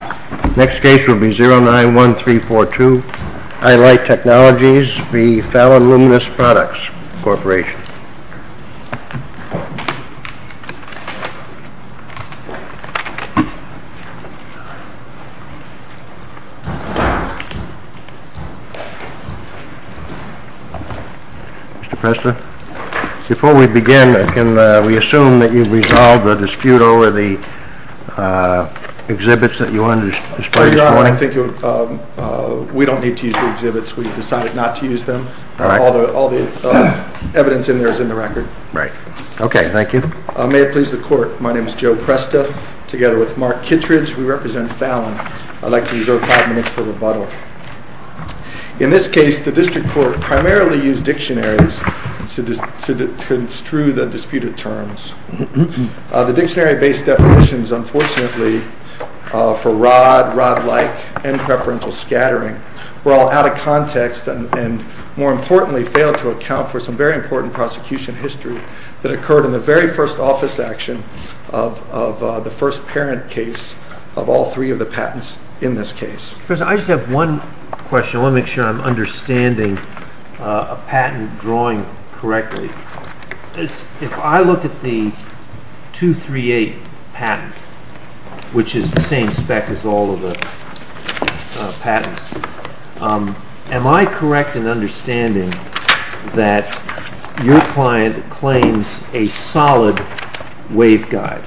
Products Corporation. Mr. Presta, before we begin, we assume that you've resolved a dispute over the exhibits that you wanted to display this morning? I think we don't need to use the exhibits. We've decided not to use them. All the evidence in there is in the record. May it please the Court, my name is Joe Presta. Together with Mark Kittredge, we represent Fallon. I'd like to reserve five minutes for rebuttal. In this case, the dictionary-based definitions, unfortunately, for rod, rod-like, and preferential scattering were all out of context and, more importantly, failed to account for some very important prosecution history that occurred in the very first office action of the first parent case of all three of the patents in this case. I just have one question. I want to make sure I'm understanding a patent drawing correctly. If I look at the 238 patent, which is the same spec as all of the patents, am I correct in understanding that your client claims a solid waveguide?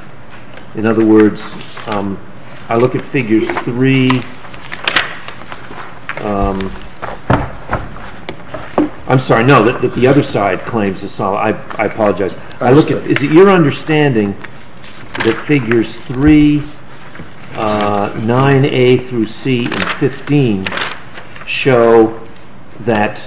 In other words, I look at the 238. I'm sorry, no, the other side claims a solid waveguide. I apologize. Is it your understanding that figures 3, 9A through C, and 15 show that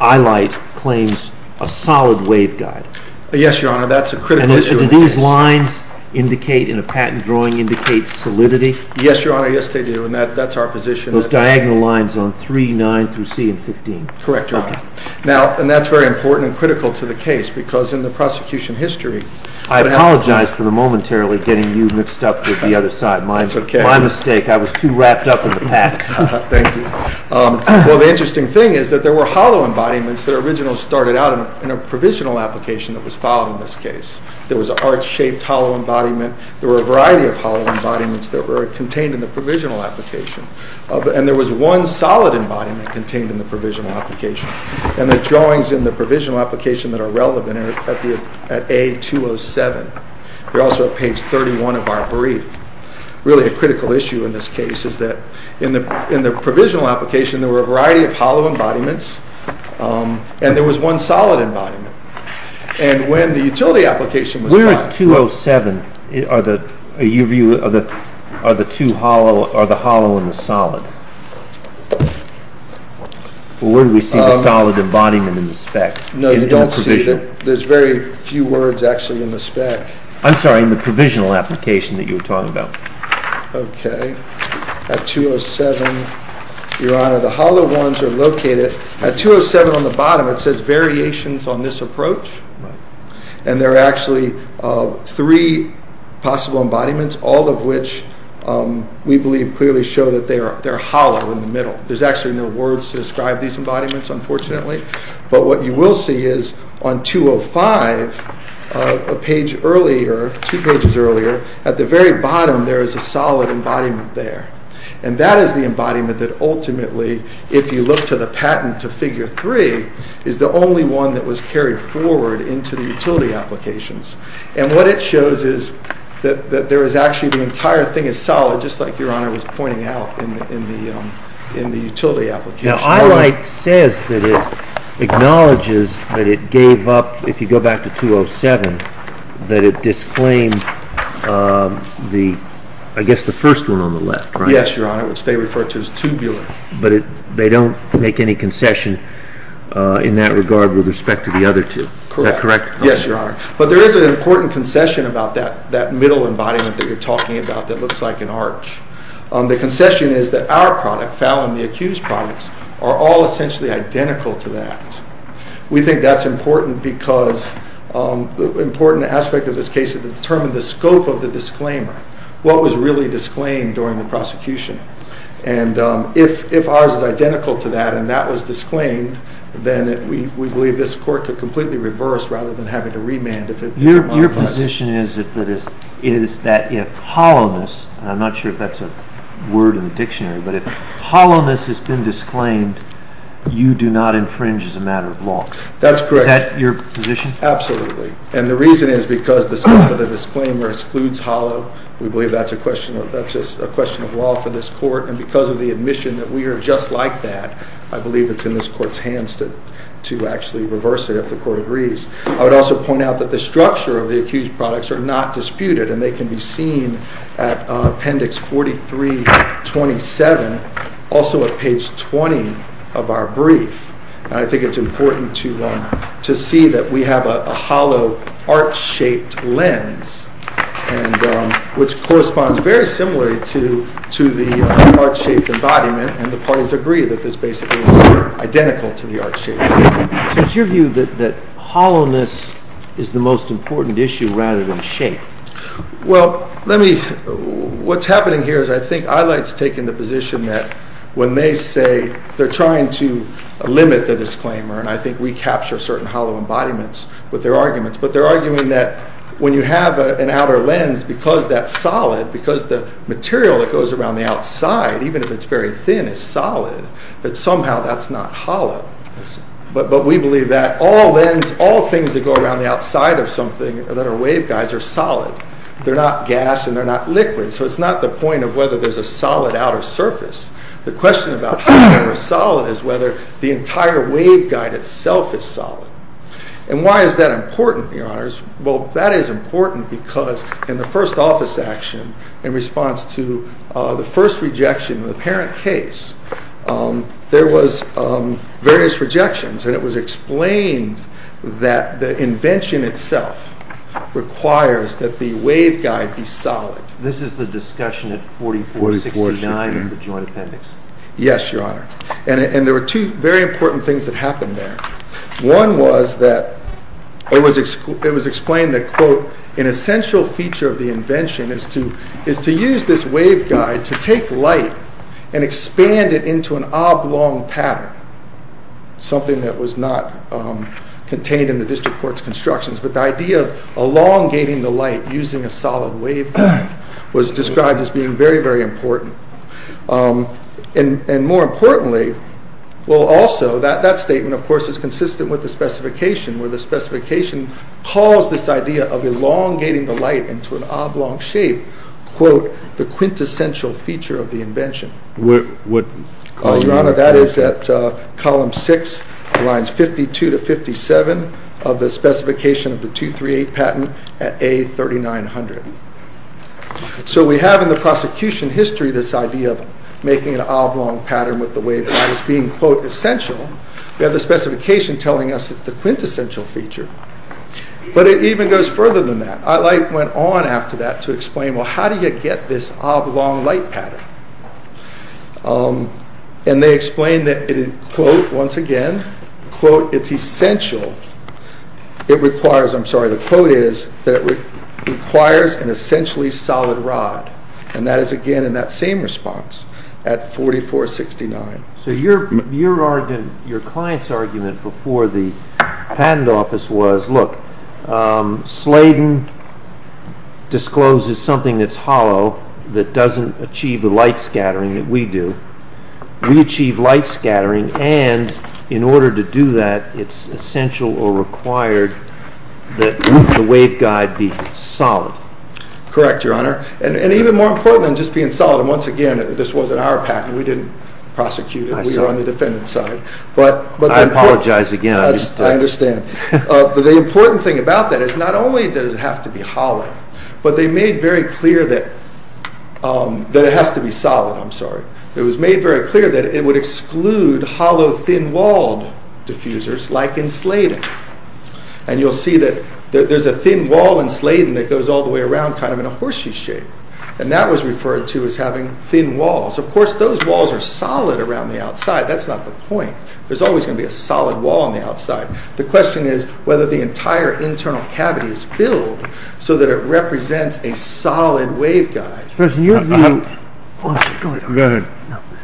Eyelight claims a solid waveguide? Yes, Your Honor, that's a critical issue in this case. So do these lines indicate, in a patent drawing, indicate solidity? Yes, Your Honor, yes they do, and that's our position. Those diagonal lines on 3, 9 through C, and 15? Correct, Your Honor. Now, and that's very important and critical to the case, because in the prosecution history- I apologize for momentarily getting you mixed up with the other side. My mistake. I was too wrapped up in the patent. Thank you. Well, the interesting thing is that there were hollow embodiments that originally started out in a provisional application that was filed in this case. There was an arch-shaped hollow embodiment. There were a variety of hollow embodiments that were contained in the provisional application, and there was one solid embodiment contained in the provisional application, and the drawings in the provisional application that are relevant are at A-207. They're also at page 31 of our brief. Really a critical issue in this case is that in the provisional application there was one solid embodiment, and when the utility application was filed- Where at 207 are the two hollow, are the hollow and the solid? Where do we see the solid embodiment in the spec? No, you don't see it. There's very few words actually in the spec. I'm sorry, in the provisional application that you were talking about. Okay, at 207, your honor, the hollow ones are located. At 207 on the bottom it says variations on this approach, and there are actually three possible embodiments, all of which we believe clearly show that they're hollow in the middle. There's actually no words to describe these embodiments, unfortunately, but what you will see is on 205, a page earlier, two pages earlier, at the very bottom there is a solid embodiment there, and that is the embodiment that ultimately, if you look to the patent to figure three, is the only one that was carried forward into the utility applications, and what it shows is that there is actually the entire thing is solid, just like your honor was pointing out in the utility application. Now ILITE says that it acknowledges that it gave up, if you go back to 207, that it disclaimed the, I guess the first one on the left, right? Yes, your honor, which they refer to as tubular. But they don't make any concession in that regard with respect to the other two, is that correct? Correct, yes, your honor, but there is an important concession about that middle embodiment that you're talking about that looks like an arch. The concession is that our product, the foul and the accused products, are all essentially identical to that. We think that's important because the important aspect of this case is to determine the scope of the disclaimer, what was really disclaimed during the prosecution, and if ours is identical to that, and that was disclaimed, then we believe this court could completely reverse rather than having to remand if it didn't. Your position is that if hollowness, and I'm not sure if that's a word in the dictionary, but if hollowness has been disclaimed, you do not infringe as a matter of law. That's correct. Is that your position? Absolutely, and the reason is because the scope of the disclaimer excludes hollow, we believe that's a question of law for this court, and because of the admission that we are just like that, I believe it's in this court's hands to actually reverse it if the court agrees. I would also point out that the structure of the accused products are not disputed and they can be seen at appendix 4327, also at page 20 of our brief, and I think it's important to see that we have a hollow arch-shaped lens, which corresponds very similarly to the arch-shaped embodiment, and the parties agree that this basically is identical to the arch-shaped lens. So it's your view that hollowness is the most important issue rather than shape? Well, what's happening here is I think Eyelight's taking the position that when they say they're trying to limit the disclaimer, and I think we capture certain hollow embodiments with their arguments, but they're arguing that when you have an outer lens, because that's solid, because the material that goes around the outside, even if it's very thin, is solid, that somehow that's not hollow, but we believe that all things that go around the outside of something that are waveguides are solid. They're not gas and they're not liquid, so it's not the point of whether there's a solid outer surface. The question about whether they're solid is whether the entire waveguide itself is solid. And why is that important, Your Honors? Well, that is important because in the first office action, in response to the first rejection of the parent case, there was various rejections, and it was explained that the invention itself requires that the waveguide be solid. This is the discussion at 4469 in the Joint Appendix? Yes, Your Honor, and there were two very important things that happened there. One was that it was explained that, quote, an essential feature of the invention is to use this waveguide to take light and expand it into an oblong pattern, something that was not contained in the district court's constructions, but the idea of elongating the light using a solid waveguide was described as being very, very important. And more importantly, well, also, that statement, of course, is consistent with the specification where the specification calls this idea of elongating the light into an oblong shape, quote, the quintessential feature of the invention. Your Honor, that is at column 6, lines 52 to 57 of the specification of the 238 patent at A3900. So we have in the prosecution history this idea of making an oblong pattern with the waveguide as being, quote, essential. We have the specification telling us it's the quintessential feature. But it even goes further than that. Light went on after that to explain, well, how do you get this oblong light pattern? And they explained that, quote, once again, quote, it's essential. It requires, I'm sorry, the quote is that it requires an essentially solid rod. And that is, again, in that same response at 4469. So your client's argument before the patent office was, look, Sladen discloses something that's hollow that doesn't achieve the light scattering that we do. We achieve light scattering, and in order to do that, it's essential or required that the waveguide be solid. Correct, Your Honor. And even more important than just being solid, and once again, this wasn't our patent. We didn't prosecute it. We were on the defendant's side. I apologize again. I understand. But the important thing about that is not only does it have to be hollow, but they made very clear that it has to be solid. I'm sorry. It was made very clear that it would exclude hollow, thin-walled diffusers like in Sladen. And you'll see that there's a thin wall in Sladen that goes all the way around kind of in a horseshoe shape, and that was referred to as having thin walls. Of course, those walls are solid around the outside. That's not the point. There's always going to be a solid wall on the outside. The question is whether the entire internal cavity is filled so that it represents a solid waveguide. Go ahead.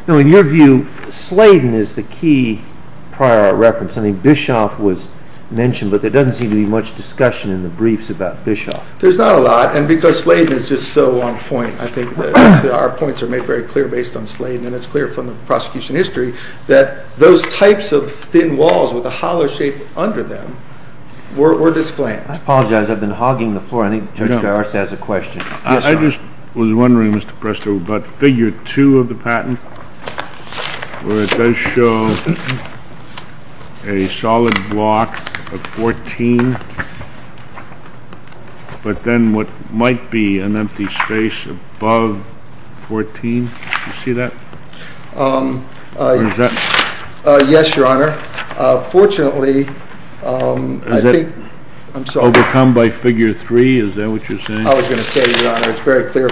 In your view, Sladen is the key prior reference. I think Bischoff was mentioned, but there doesn't seem to be much discussion in the briefs about Bischoff. There's not a lot, and because Sladen is just so on point, I think that our points are made very clear based on Sladen, and it's clear from the prosecution history that those types of thin walls with a hollow shape under them were disclaimed. I apologize. I've been hogging the floor. I think Judge Garza has a question. Yes, sir. I just was wondering, Mr. Presto, about Figure 2 of the patent, where it does show a solid block of 14, but then what might be an empty space above 14. Do you see that? Yes, Your Honor. Fortunately, I think— Is that what you're saying? I was going to say, Your Honor, it's very clear,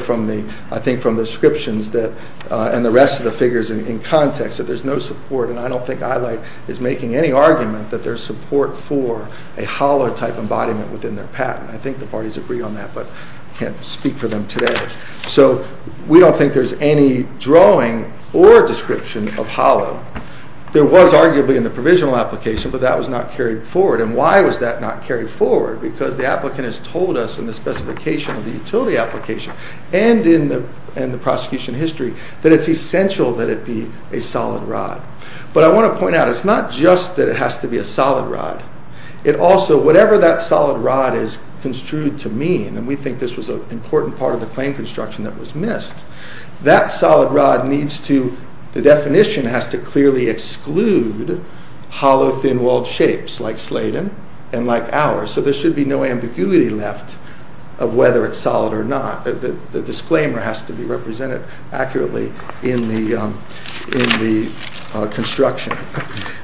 I think, from the descriptions and the rest of the figures in context that there's no support, and I don't think EyeLight is making any argument that there's support for a hollow-type embodiment within their patent. I think the parties agree on that, but I can't speak for them today. So we don't think there's any drawing or description of hollow. There was, arguably, in the provisional application, but that was not carried forward, and why was that not carried forward? Because the applicant has told us in the specification of the utility application and in the prosecution history that it's essential that it be a solid rod. But I want to point out, it's not just that it has to be a solid rod. It also—whatever that solid rod is construed to mean, and we think this was an important part of the claim construction that was missed, that solid rod needs to—the definition has to clearly exclude hollow, thin-walled shapes like Sladen and like ours. So there should be no ambiguity left of whether it's solid or not. The disclaimer has to be represented accurately in the construction.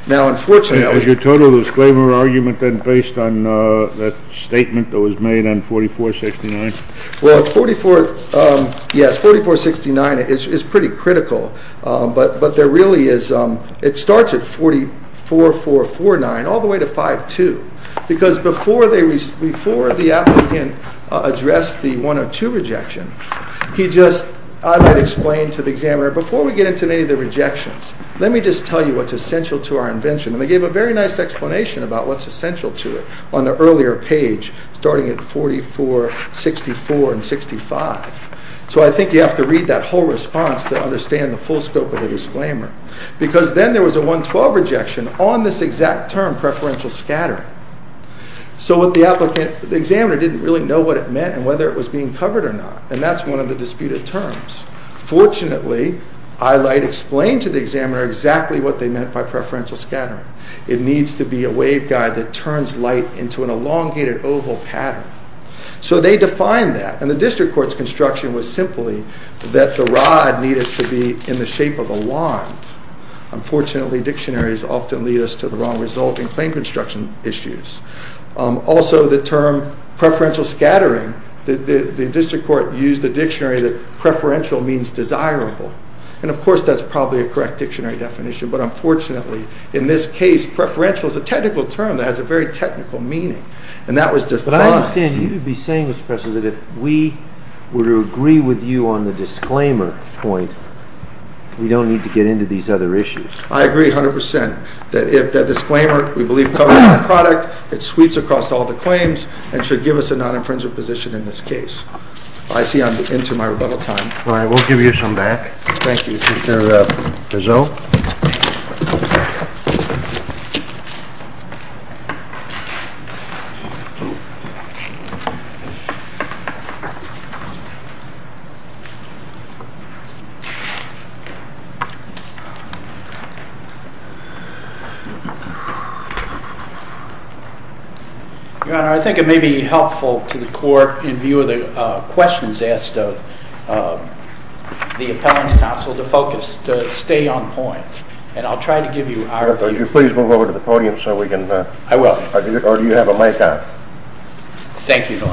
Now, unfortunately— Has your total disclaimer argument been based on that statement that was made on 4469? Well, it's 44—yes, 4469 is pretty critical, but there really is—it starts at 4449 all the way to 5-2, because before the applicant addressed the 102 rejection, he just—I might explain to the examiner, before we get into any of the rejections, let me just tell you what's essential to our invention. And they gave a very nice explanation about what's essential to it on the earlier page, starting at 44, 64, and 65. So I think you have to read that whole response to understand the full scope of the disclaimer, because then there was a 112 rejection on this exact term, preferential scattering. So what the applicant—the examiner didn't really know what it meant and whether it was being covered or not, and that's one of the disputed terms. Fortunately, I might explain to the examiner exactly what they meant by preferential scattering. It needs to be a waveguide that turns light into an elongated oval pattern. So they defined that, and the district court's construction was simply that the rod needed to be in the shape of a wand. Unfortunately, dictionaries often lead us to the wrong result in claim construction issues. Also, the term preferential scattering—the district court used a dictionary that preferential means desirable, and of course that's probably a correct dictionary definition, but unfortunately, in this case, preferential is a technical term that has a very technical meaning, and that was defined— But I understand you would be saying, Mr. Presser, that if we were to agree with you on the disclaimer point, we don't need to get into these other issues. I agree 100 percent that if the disclaimer, we believe, covers the product, it sweeps across all the claims, and should give us a non-infringer position in this case. I see I'm into my rebuttal time. All right, we'll give you some back. Thank you, Mr. DeZoe. Your Honor, I think it may be helpful to the court, in view of the questions asked of the appellant's counsel, to focus, to stay on point, and I'll try to give you our view. Could you please move over to the podium so we can— I will. Or do you have a mic on? Thank you, Your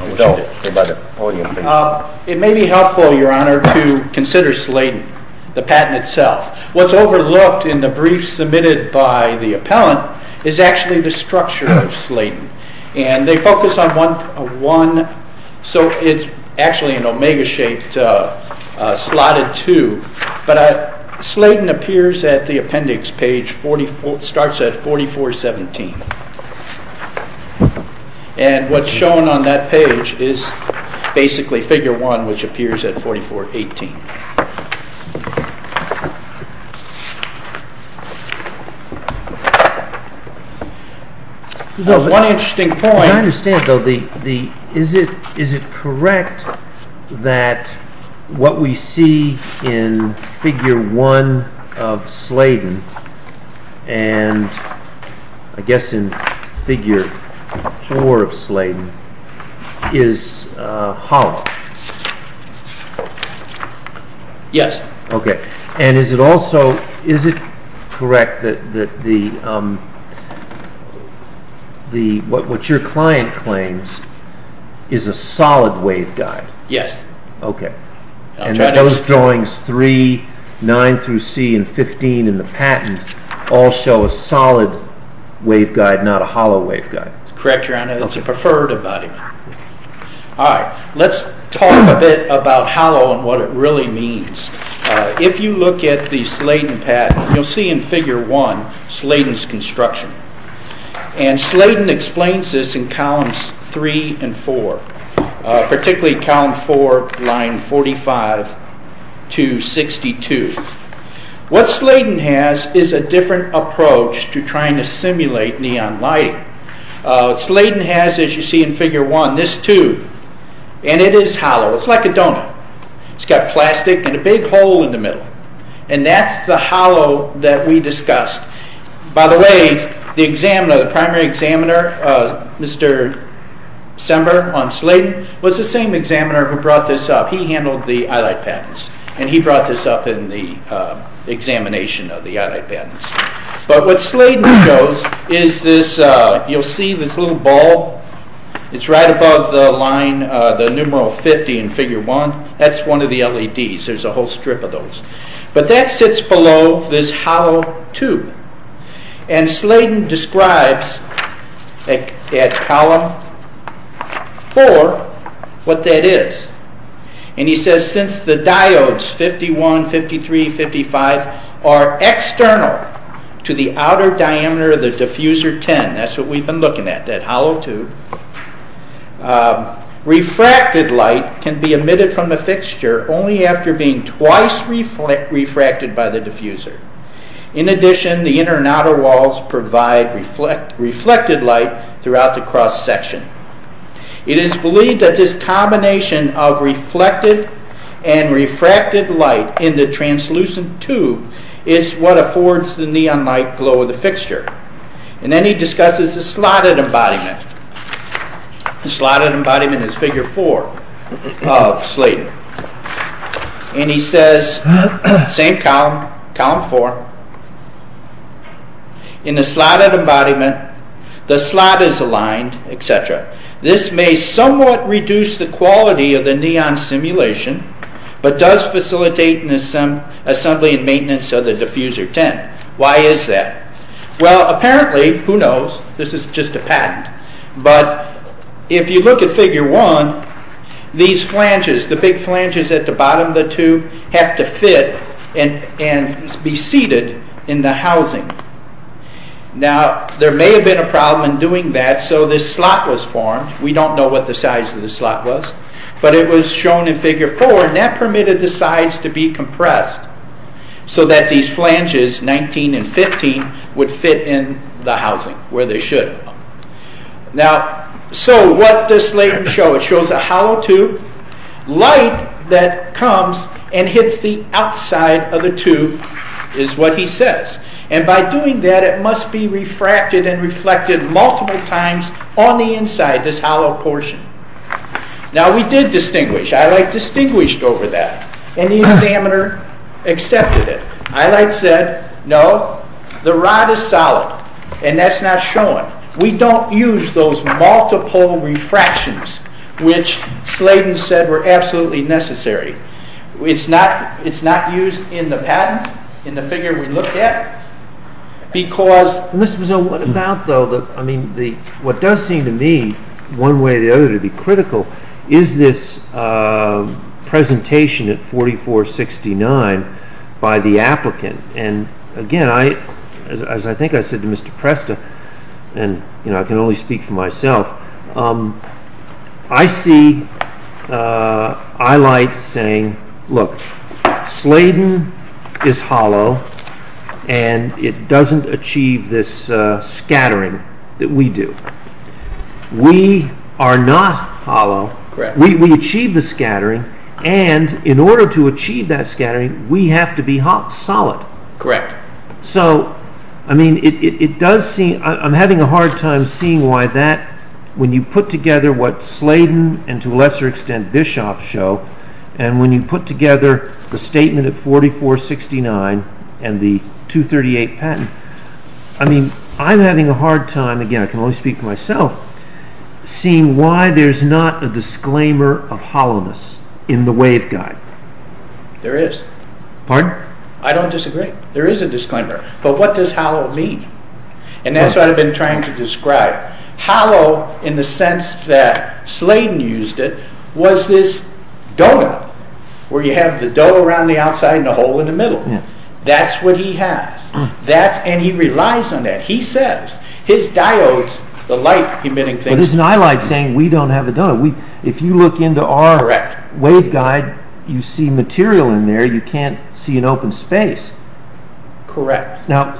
Honor. It may be helpful, Your Honor, to consider Slayton, the patent itself. What's overlooked in the brief submitted by the appellant is actually the structure of Slayton, and they focus on one—so it's actually an omega-shaped slotted tube, but Slayton appears at the appendix page, starts at 4417, and what's shown on that page is basically Figure 1, which appears at 4418. One interesting point— I understand, though. Is it correct that what we see in Figure 1 of Slayton, and I guess in Figure 4 of Slayton, is hollow? Yes. Is it correct that what your client claims is a solid waveguide? Yes. Those drawings 3, 9 through C, and 15 in the patent all show a solid waveguide, not a hollow waveguide? That's correct, Your Honor. That's a preferred embodiment. All right. Let's talk a bit about hollow and what it really means. If you look at the Slayton patent, you'll see in Figure 1 Slayton's construction, and Slayton explains this in columns 3 and 4, particularly column 4, line 45 to 62. What Slayton has is a different approach to trying to simulate neon lighting. Slayton has, as you see in Figure 1, this tube, and it is hollow. It's like a donut. It's got plastic and a big hole in the middle, and that's the hollow that we discussed. By the way, the examiner, the primary examiner, Mr. Sember on Slayton, was the same examiner who brought this up. He handled the Eyelight patents, and he brought this up in the examination of the Eyelight patents. But what Slayton shows is this. You'll see this little ball. It's right above the line, the numeral 50 in Figure 1. That's one of the LEDs. There's a whole strip of those. But that sits below this hollow tube, and Slayton describes at column 4 what that is. He says, since the diodes, 51, 53, 55, are external to the outer diameter of the diffuser 10, that's what we've been looking at, that hollow tube, refracted light can be emitted from the fixture only after being twice refracted by the diffuser. In addition, the inner and outer walls provide reflected light throughout the cross-section. It is believed that this combination of reflected and refracted light in the translucent tube is what affords the neon light glow of the fixture. Then he discusses the slotted embodiment. The slotted embodiment is Figure 4 of Slayton. He says, same column, column 4, in the slotted embodiment, the slot is aligned, etc. This may somewhat reduce the quality of the neon simulation, but does facilitate the assembly and maintenance of the diffuser 10. Why is that? Well, apparently, who knows, this is just a patent, but if you look at Figure 1, these flanges, the big flanges at the bottom of the tube, have to fit and be seated in the housing. Now, there may have been a problem in doing that, so this slot was formed. We don't know what the size of the slot was, but it was shown in Figure 4, and that permitted the sides to be compressed, so that these flanges, 19 and 15, would fit in the housing where they should. Now, so what does Slayton show? It shows a hollow tube, light that comes and hits the outside of the tube, is what he says. And by doing that, it must be refracted and reflected multiple times on the inside, this hollow portion. Now, we did distinguish, EyeLight distinguished over that, and the examiner accepted it. EyeLight said, no, the rod is solid, and that's not showing. We don't use those multiple refractions, which Slayton said were absolutely necessary. It's not used in the patent, in the figure we look at, because... Mr. Mizzou, what does seem to me, one way or the other, to be critical, is this presentation at 4469 by the applicant. And again, as I think I said to Mr. Presta, and I can only speak for myself, I see EyeLight saying, look, Slayton is hollow, and it doesn't achieve this scattering that we do. We are not hollow, we achieve the scattering, and in order to achieve that scattering, we have to be hot solid. Correct. So, I mean, it does seem, I'm having a hard time seeing why that, when you put together what Slayton, and to a lesser extent Bischoff show, and when you put together the statement at 4469, and the 238 patent, I mean, I'm having a hard time, again, I can only speak for myself, seeing why there's not a disclaimer of hollowness in the waveguide. There is. Pardon? I don't disagree. There is a disclaimer. But what does hollow mean? And that's what I've been trying to describe. Hollow, in the sense that Slayton used it, was this dome, where you have the dome around the outside and a hole in the middle. That's what he has. And he relies on that. He says, his diodes, the light emitting things... But it's not like saying we don't have a dome. If you look into our waveguide, you see material in there, you can't see an open space. Correct. Now,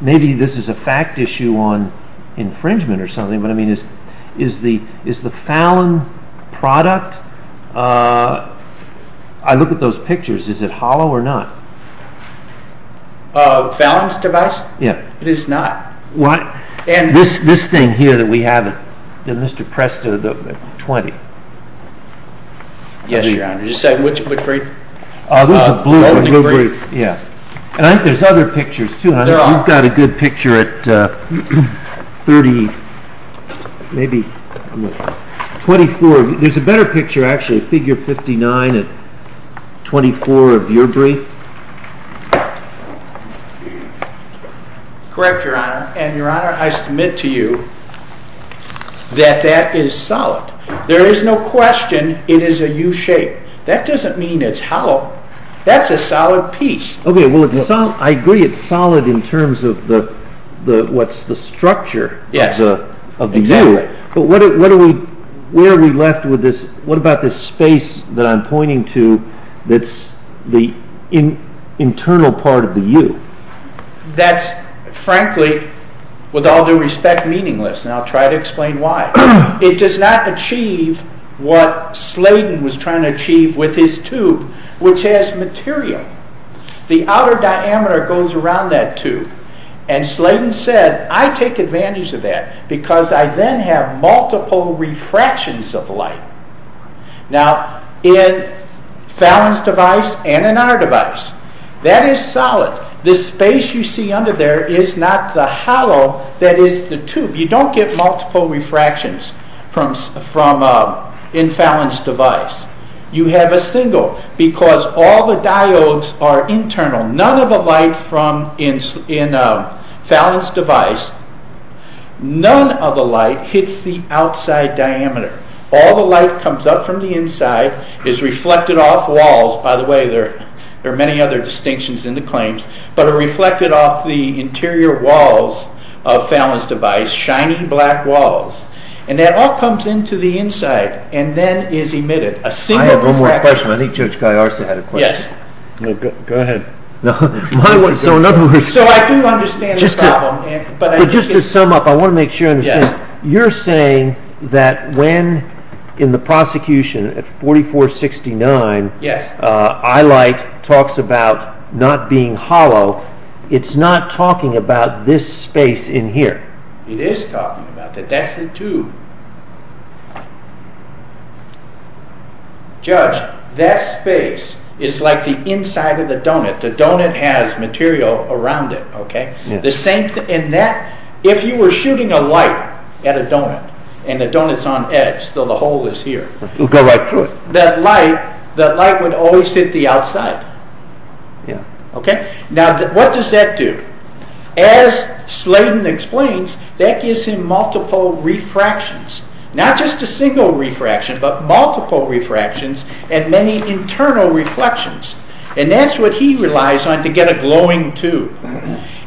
maybe this is a fact issue on infringement or something, but is the Fallon product, I look at those pictures, is it hollow or not? Fallon's device? Yeah. It is not. This thing here that we have in Mr. Presto, the 20. Yes, Your Honor. Did you say which brief? This is a blue brief. And I think there's other pictures, too. You've got a good picture at 30, maybe 24. There's a better picture, actually, figure 59 at 24 of your brief. Correct, Your Honor. And, Your Honor, I submit to you that that is solid. There is no question it is a U-shape. That doesn't mean it's hollow. That's a solid piece. I agree it's solid in terms of what's the structure of the U. But where are we left with this? What about this space that I'm pointing to that's the internal part of the U? That's, frankly, with all due respect, meaningless, and I'll try to explain why. It does not achieve what Slayton was trying to achieve with his tube, which has material. The outer diameter goes around that tube, and Slayton said, I take advantage of that because I then have multiple refractions of light. Now, in Fallon's device and in our device, that is solid. This space you see under there is not the hollow that is the tube. You don't get multiple refractions in Fallon's device. You have a single because all the diodes are internal. None of the light in Fallon's device, none of the light hits the outside diameter. All the light comes up from the inside, is reflected off walls. By the way, there are many other distinctions in the claims, but are reflected off the interior walls of Fallon's device, shiny black walls. And that all comes into the inside and then is emitted. I have one more question. I think Judge Galliard had a question. Yes. Go ahead. So I do understand the problem. Just to sum up, I want to make sure I understand. You're saying that when in the prosecution at 4469, eye light talks about not being hollow, it's not talking about this space in here. It is talking about that. That's the tube. Judge, that space is like the inside of the donut. The donut has material around it. If you were shooting a light at a donut, and the donut is on edge, so the hole is here. It will go right through it. That light would always hit the outside. Yes. Now, what does that do? As Sladen explains, that gives him multiple refractions. Not just a single refraction, but multiple refractions and many internal reflections. And that's what he relies on to get a glowing tube.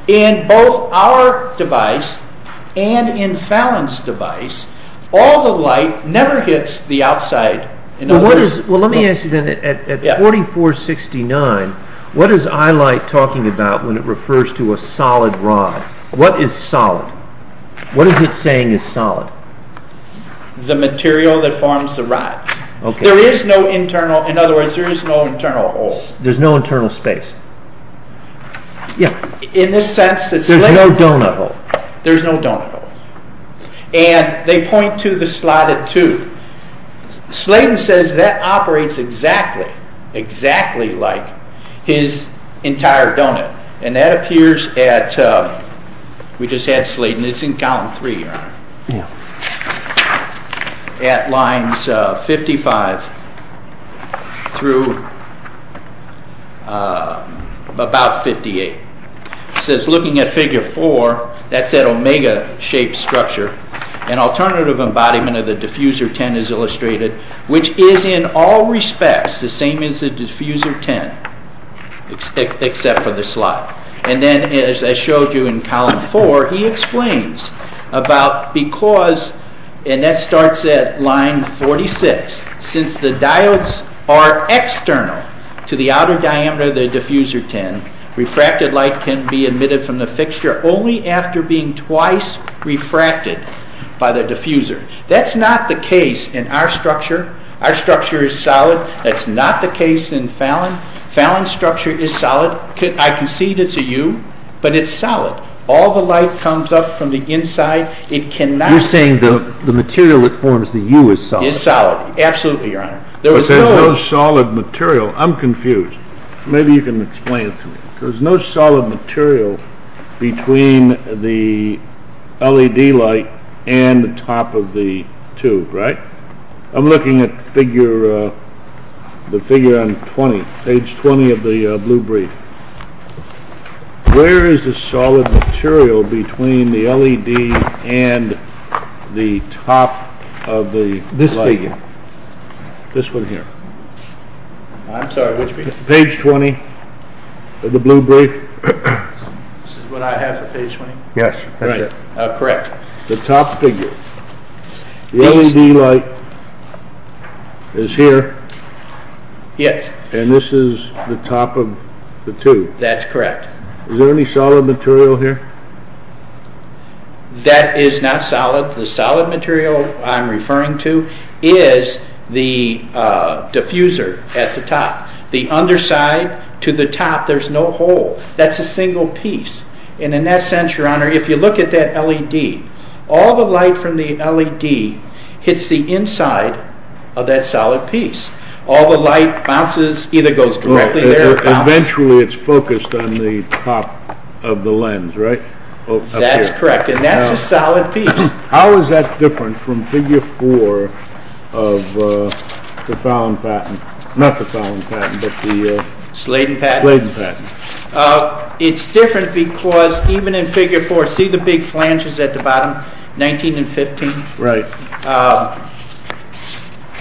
In both our device and in Fallon's device, all the light never hits the outside. Well, let me ask you then, at 4469, what is eye light talking about when it refers to a solid rod? What is solid? What is it saying is solid? The material that forms the rod. There is no internal, in other words, there is no internal hole. There is no internal space. In the sense that Sladen... There is no donut hole. There is no donut hole. And they point to the slotted tube. Sladen says that operates exactly like his entire donut. And that appears at... We just had Sladen. It's in column 3, right? Yeah. At lines 55 through about 58. It says, looking at figure 4, that's that omega-shaped structure. An alternative embodiment of the diffuser 10 is illustrated, which is in all respects the same as the diffuser 10, except for the slot. And then, as I showed you in column 4, he explains about because... And that starts at line 46. Since the diodes are external to the outer diameter of the diffuser 10, refracted light can be emitted from the fixture only after being twice refracted by the diffuser. That's not the case in our structure. Our structure is solid. That's not the case in Fallon. Fallon's structure is solid. I concede it's a U, but it's solid. All the light comes up from the inside. It cannot... You're saying the material it forms, the U, is solid? Is solid. Absolutely, Your Honor. But there's no solid material. I'm confused. Maybe you can explain it to me. There's no solid material between the LED light and the top of the tube, right? I'm looking at the figure on page 20 of the blue brief. Where is the solid material between the LED and the top of the light? This figure. This one here. I'm sorry, which one? Page 20 of the blue brief. This is what I have for page 20? Yes. Correct. The top figure. The LED light is here. Yes. And this is the top of the tube. That's correct. Is there any solid material here? That is not solid. The solid material I'm referring to is the diffuser at the top. The underside to the top, there's no hole. That's a single piece. And in that sense, Your Honor, if you look at that LED, all the light from the LED hits the inside of that solid piece. All the light either goes directly there or bounces. Eventually it's focused on the top of the lens, right? That's correct, and that's a solid piece. How is that different from figure 4 of the Fallon patent? Not the Fallon patent, but the Sladen patent. It's different because even in figure 4, see the big flanges at the bottom, 19 and 15? Right.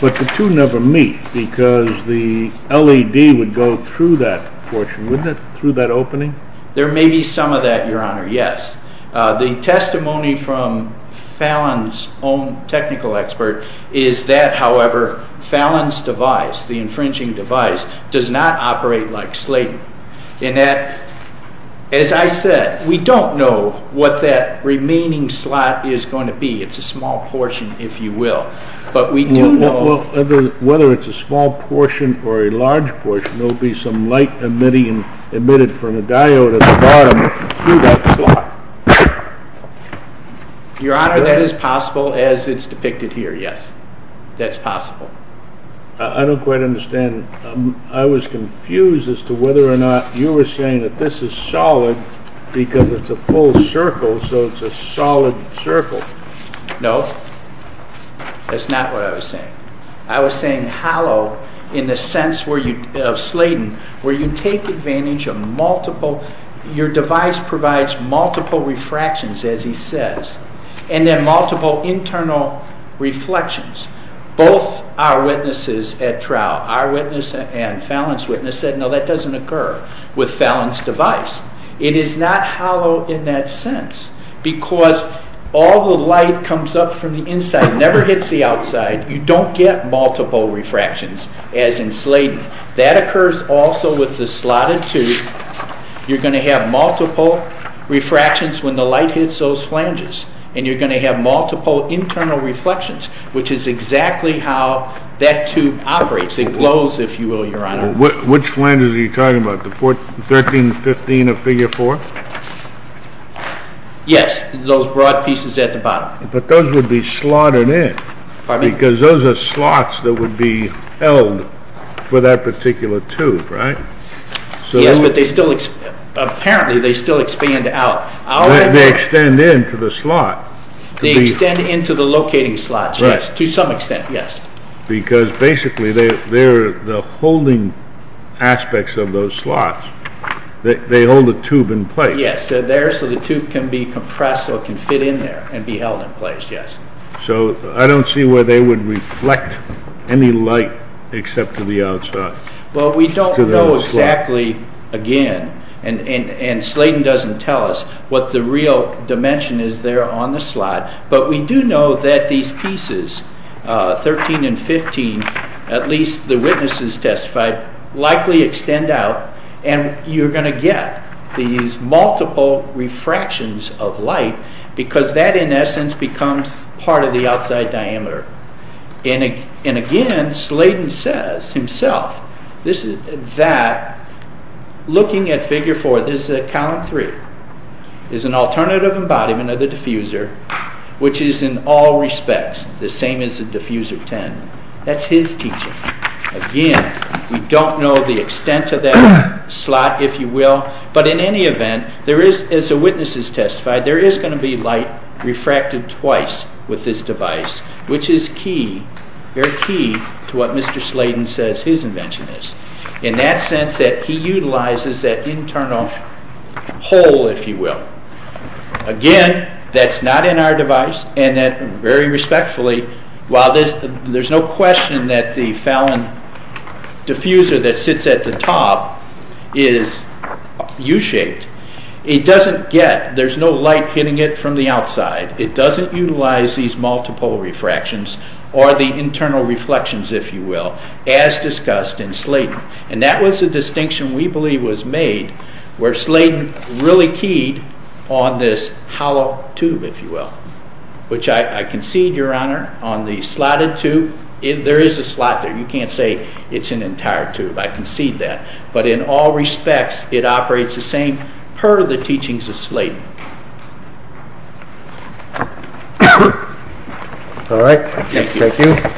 But the two never meet because the LED would go through that portion, wouldn't it, through that opening? There may be some of that, Your Honor, yes. The testimony from Fallon's own technical expert is that, however, Fallon's device, the infringing device, does not operate like Sladen. In that, as I said, we don't know what that remaining slot is going to be. It's a small portion, if you will. Whether it's a small portion or a large portion, there will be some light emitted from a diode at the bottom through that slot. Your Honor, that is possible as it's depicted here, yes. That's possible. I don't quite understand. I was confused as to whether or not you were saying that this is solid because it's a full circle, so it's a solid circle. No, that's not what I was saying. I was saying hollow in the sense of Sladen, where you take advantage of multiple... Your device provides multiple refractions, as he says, and then multiple internal reflections. Both our witnesses at trial, our witness and Fallon's witness, said, no, that doesn't occur with Fallon's device. It is not hollow in that sense because all the light comes up from the inside and never hits the outside. You don't get multiple refractions, as in Sladen. That occurs also with the slotted tooth. You're going to have multiple refractions when the light hits those flanges, and you're going to have multiple internal reflections, which is exactly how that tube operates. It glows, if you will, Your Honor. Which flanges are you talking about, the 13 and 15 of Figure 4? Yes, those broad pieces at the bottom. But those would be slotted in because those are slots that would be held for that particular tube, right? Yes, but apparently they still expand out. They extend into the slot. They extend into the locating slots, yes, to some extent, yes. Because basically the holding aspects of those slots, they hold the tube in place. Yes, they're there so the tube can be compressed so it can fit in there and be held in place, yes. So I don't see where they would reflect any light except to the outside. Well, we don't know exactly, again, and Sladen doesn't tell us what the real dimension is there on the slot, but we do know that these pieces, 13 and 15, at least the witnesses testified, likely extend out, and you're going to get these multiple refractions of light because that, in essence, becomes part of the outside diameter. And again, Sladen says himself that, looking at Figure 4, this is at Column 3, is an alternative embodiment of the diffuser, which is in all respects the same as the Diffuser 10. That's his teaching. Again, we don't know the extent of that slot, if you will, but in any event, there is, as the witnesses testified, there is going to be light refracted twice with this device, which is key, very key, to what Mr. Sladen says his invention is, in that sense that he utilizes that internal hole, if you will. Again, that's not in our device, and very respectfully, while there's no question that the Fallon diffuser that sits at the top is U-shaped, it doesn't get, there's no light hitting it from the outside. It doesn't utilize these multiple refractions, or the internal reflections, if you will, as discussed in Sladen. And that was the distinction we believe was made where Sladen really keyed on this hollow tube, if you will, which I concede, Your Honor, on the slotted tube. There is a slot there. You can't say it's an entire tube. I concede that. But in all respects, it operates the same, per the teachings of Sladen. All right. Thank you. Thank you,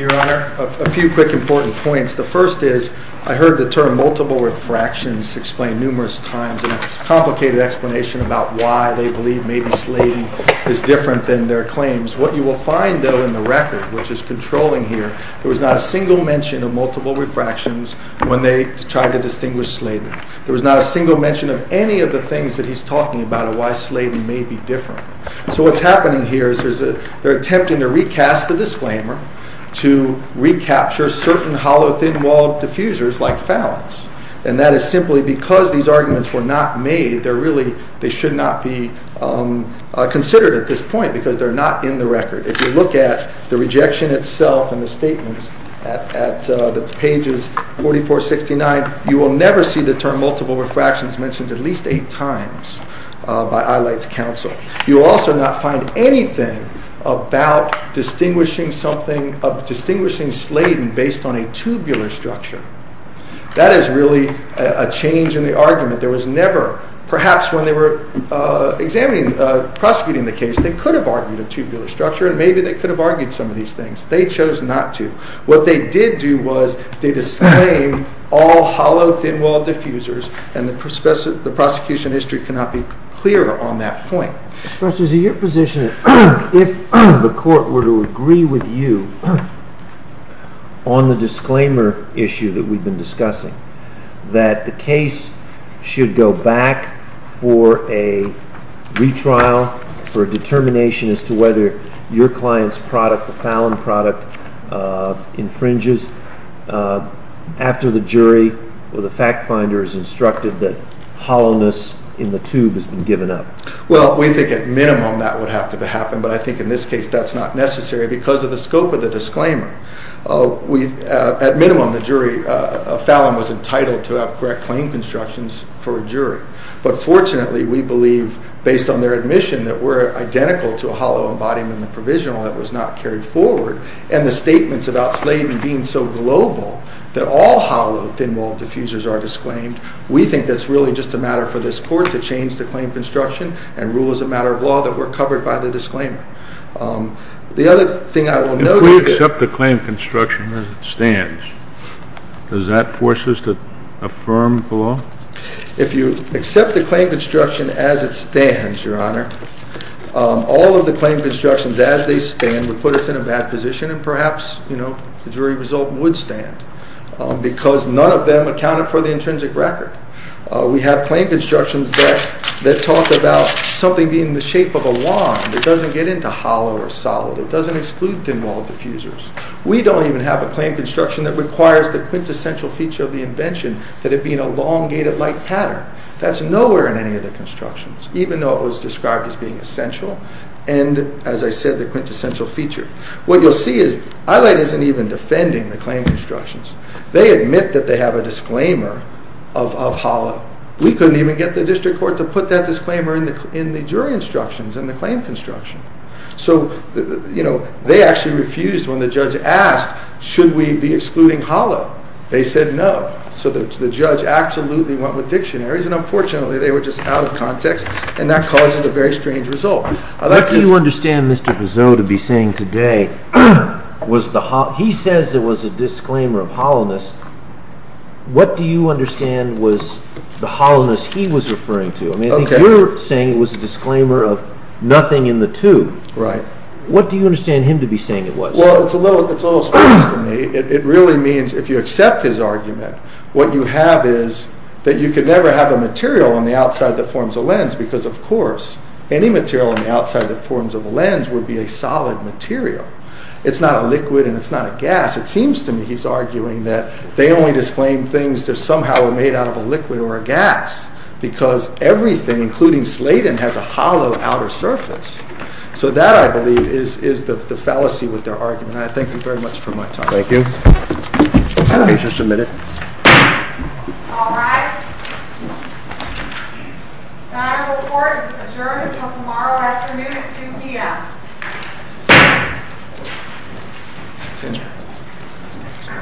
Your Honor. A few quick important points. The first is, I heard the term multiple refractions explained numerous times in a complicated explanation about why they believe maybe Sladen is different than their claims. What you will find, though, in the record, which is controlling here, there was not a single mention of multiple refractions when they tried to distinguish Sladen. There was not a single mention of any of the things that he's talking about or why Sladen may be different. So what's happening here is they're attempting to recast the disclaimer to recapture certain hollow, thin-walled diffusers like Phalanx. And that is simply because these arguments were not made, they should not be considered at this point because they're not in the record. If you look at the rejection itself in the statements, at the pages 44, 69, you will never see the term multiple refractions mentioned at least eight times by Eyelight's counsel. You will also not find anything about distinguishing Sladen based on a tubular structure. That is really a change in the argument. There was never, perhaps when they were prosecuting the case, they could have argued a tubular structure and maybe they could have argued some of these things. They chose not to. What they did do was they disclaimed all hollow, thin-walled diffusers and the prosecution history cannot be clearer on that point. Justice, is it your position that if the court were to agree with you on the disclaimer issue that we've been discussing, that the case should go back for a retrial, for a determination as to whether your client's product, the Phalanx product, infringes after the jury or the fact finder is instructed that hollowness in the tube has been given up? Well, we think at minimum that would have to happen, but I think in this case that's not necessary because of the scope of the disclaimer. At minimum, the jury, Phalanx was entitled to have correct claim constructions for a jury, but fortunately we believe, based on their admission, that we're identical to a hollow embodiment in the provisional that was not carried forward. And the statements about Sladen being so global that all hollow, thin-walled diffusers are disclaimed, we think that's really just a matter for this court to change the claim construction and rule as a matter of law that we're covered by the disclaimer. If we accept the claim construction as it stands, does that force us to affirm the law? If you accept the claim construction as it stands, Your Honor, all of the claim constructions as they stand would put us in a bad position and perhaps the jury result would stand because none of them accounted for the intrinsic record. We have claim constructions that talk about something being the shape of a lawn that doesn't get into hollow or solid. It doesn't exclude thin-walled diffusers. We don't even have a claim construction that requires the quintessential feature of the invention that it be in a long, gated-like pattern. That's nowhere in any of the constructions, even though it was described as being essential and, as I said, the quintessential feature. What you'll see is Eyelight isn't even defending the claim constructions. They admit that they have a disclaimer of hollow. We couldn't even get the district court to put that disclaimer in the jury instructions in the claim construction. So, you know, they actually refused when the judge asked, should we be excluding hollow? They said no, so the judge absolutely went with dictionaries and, unfortunately, they were just out of context and that causes a very strange result. What do you understand Mr. Piseau to be saying today? He says it was a disclaimer of hollowness. What do you understand was the hollowness he was referring to? I mean, I think you're saying it was a disclaimer of nothing in the two. Right. What do you understand him to be saying it was? Well, it's a little strange to me. It really means, if you accept his argument, what you have is that you could never have a material on the outside that forms a lens because, of course, any material on the outside that forms a lens would be a solid material. It's not a liquid and it's not a gas. It seems to me he's arguing that they only disclaim things that somehow are made out of a liquid or a gas because everything, including Slayton, has a hollow outer surface. So that, I believe, is the fallacy with their argument. I thank you very much for my time. Thank you. I'll be just a minute. All rise. Battle report is adjourned until tomorrow afternoon at 2 p.m.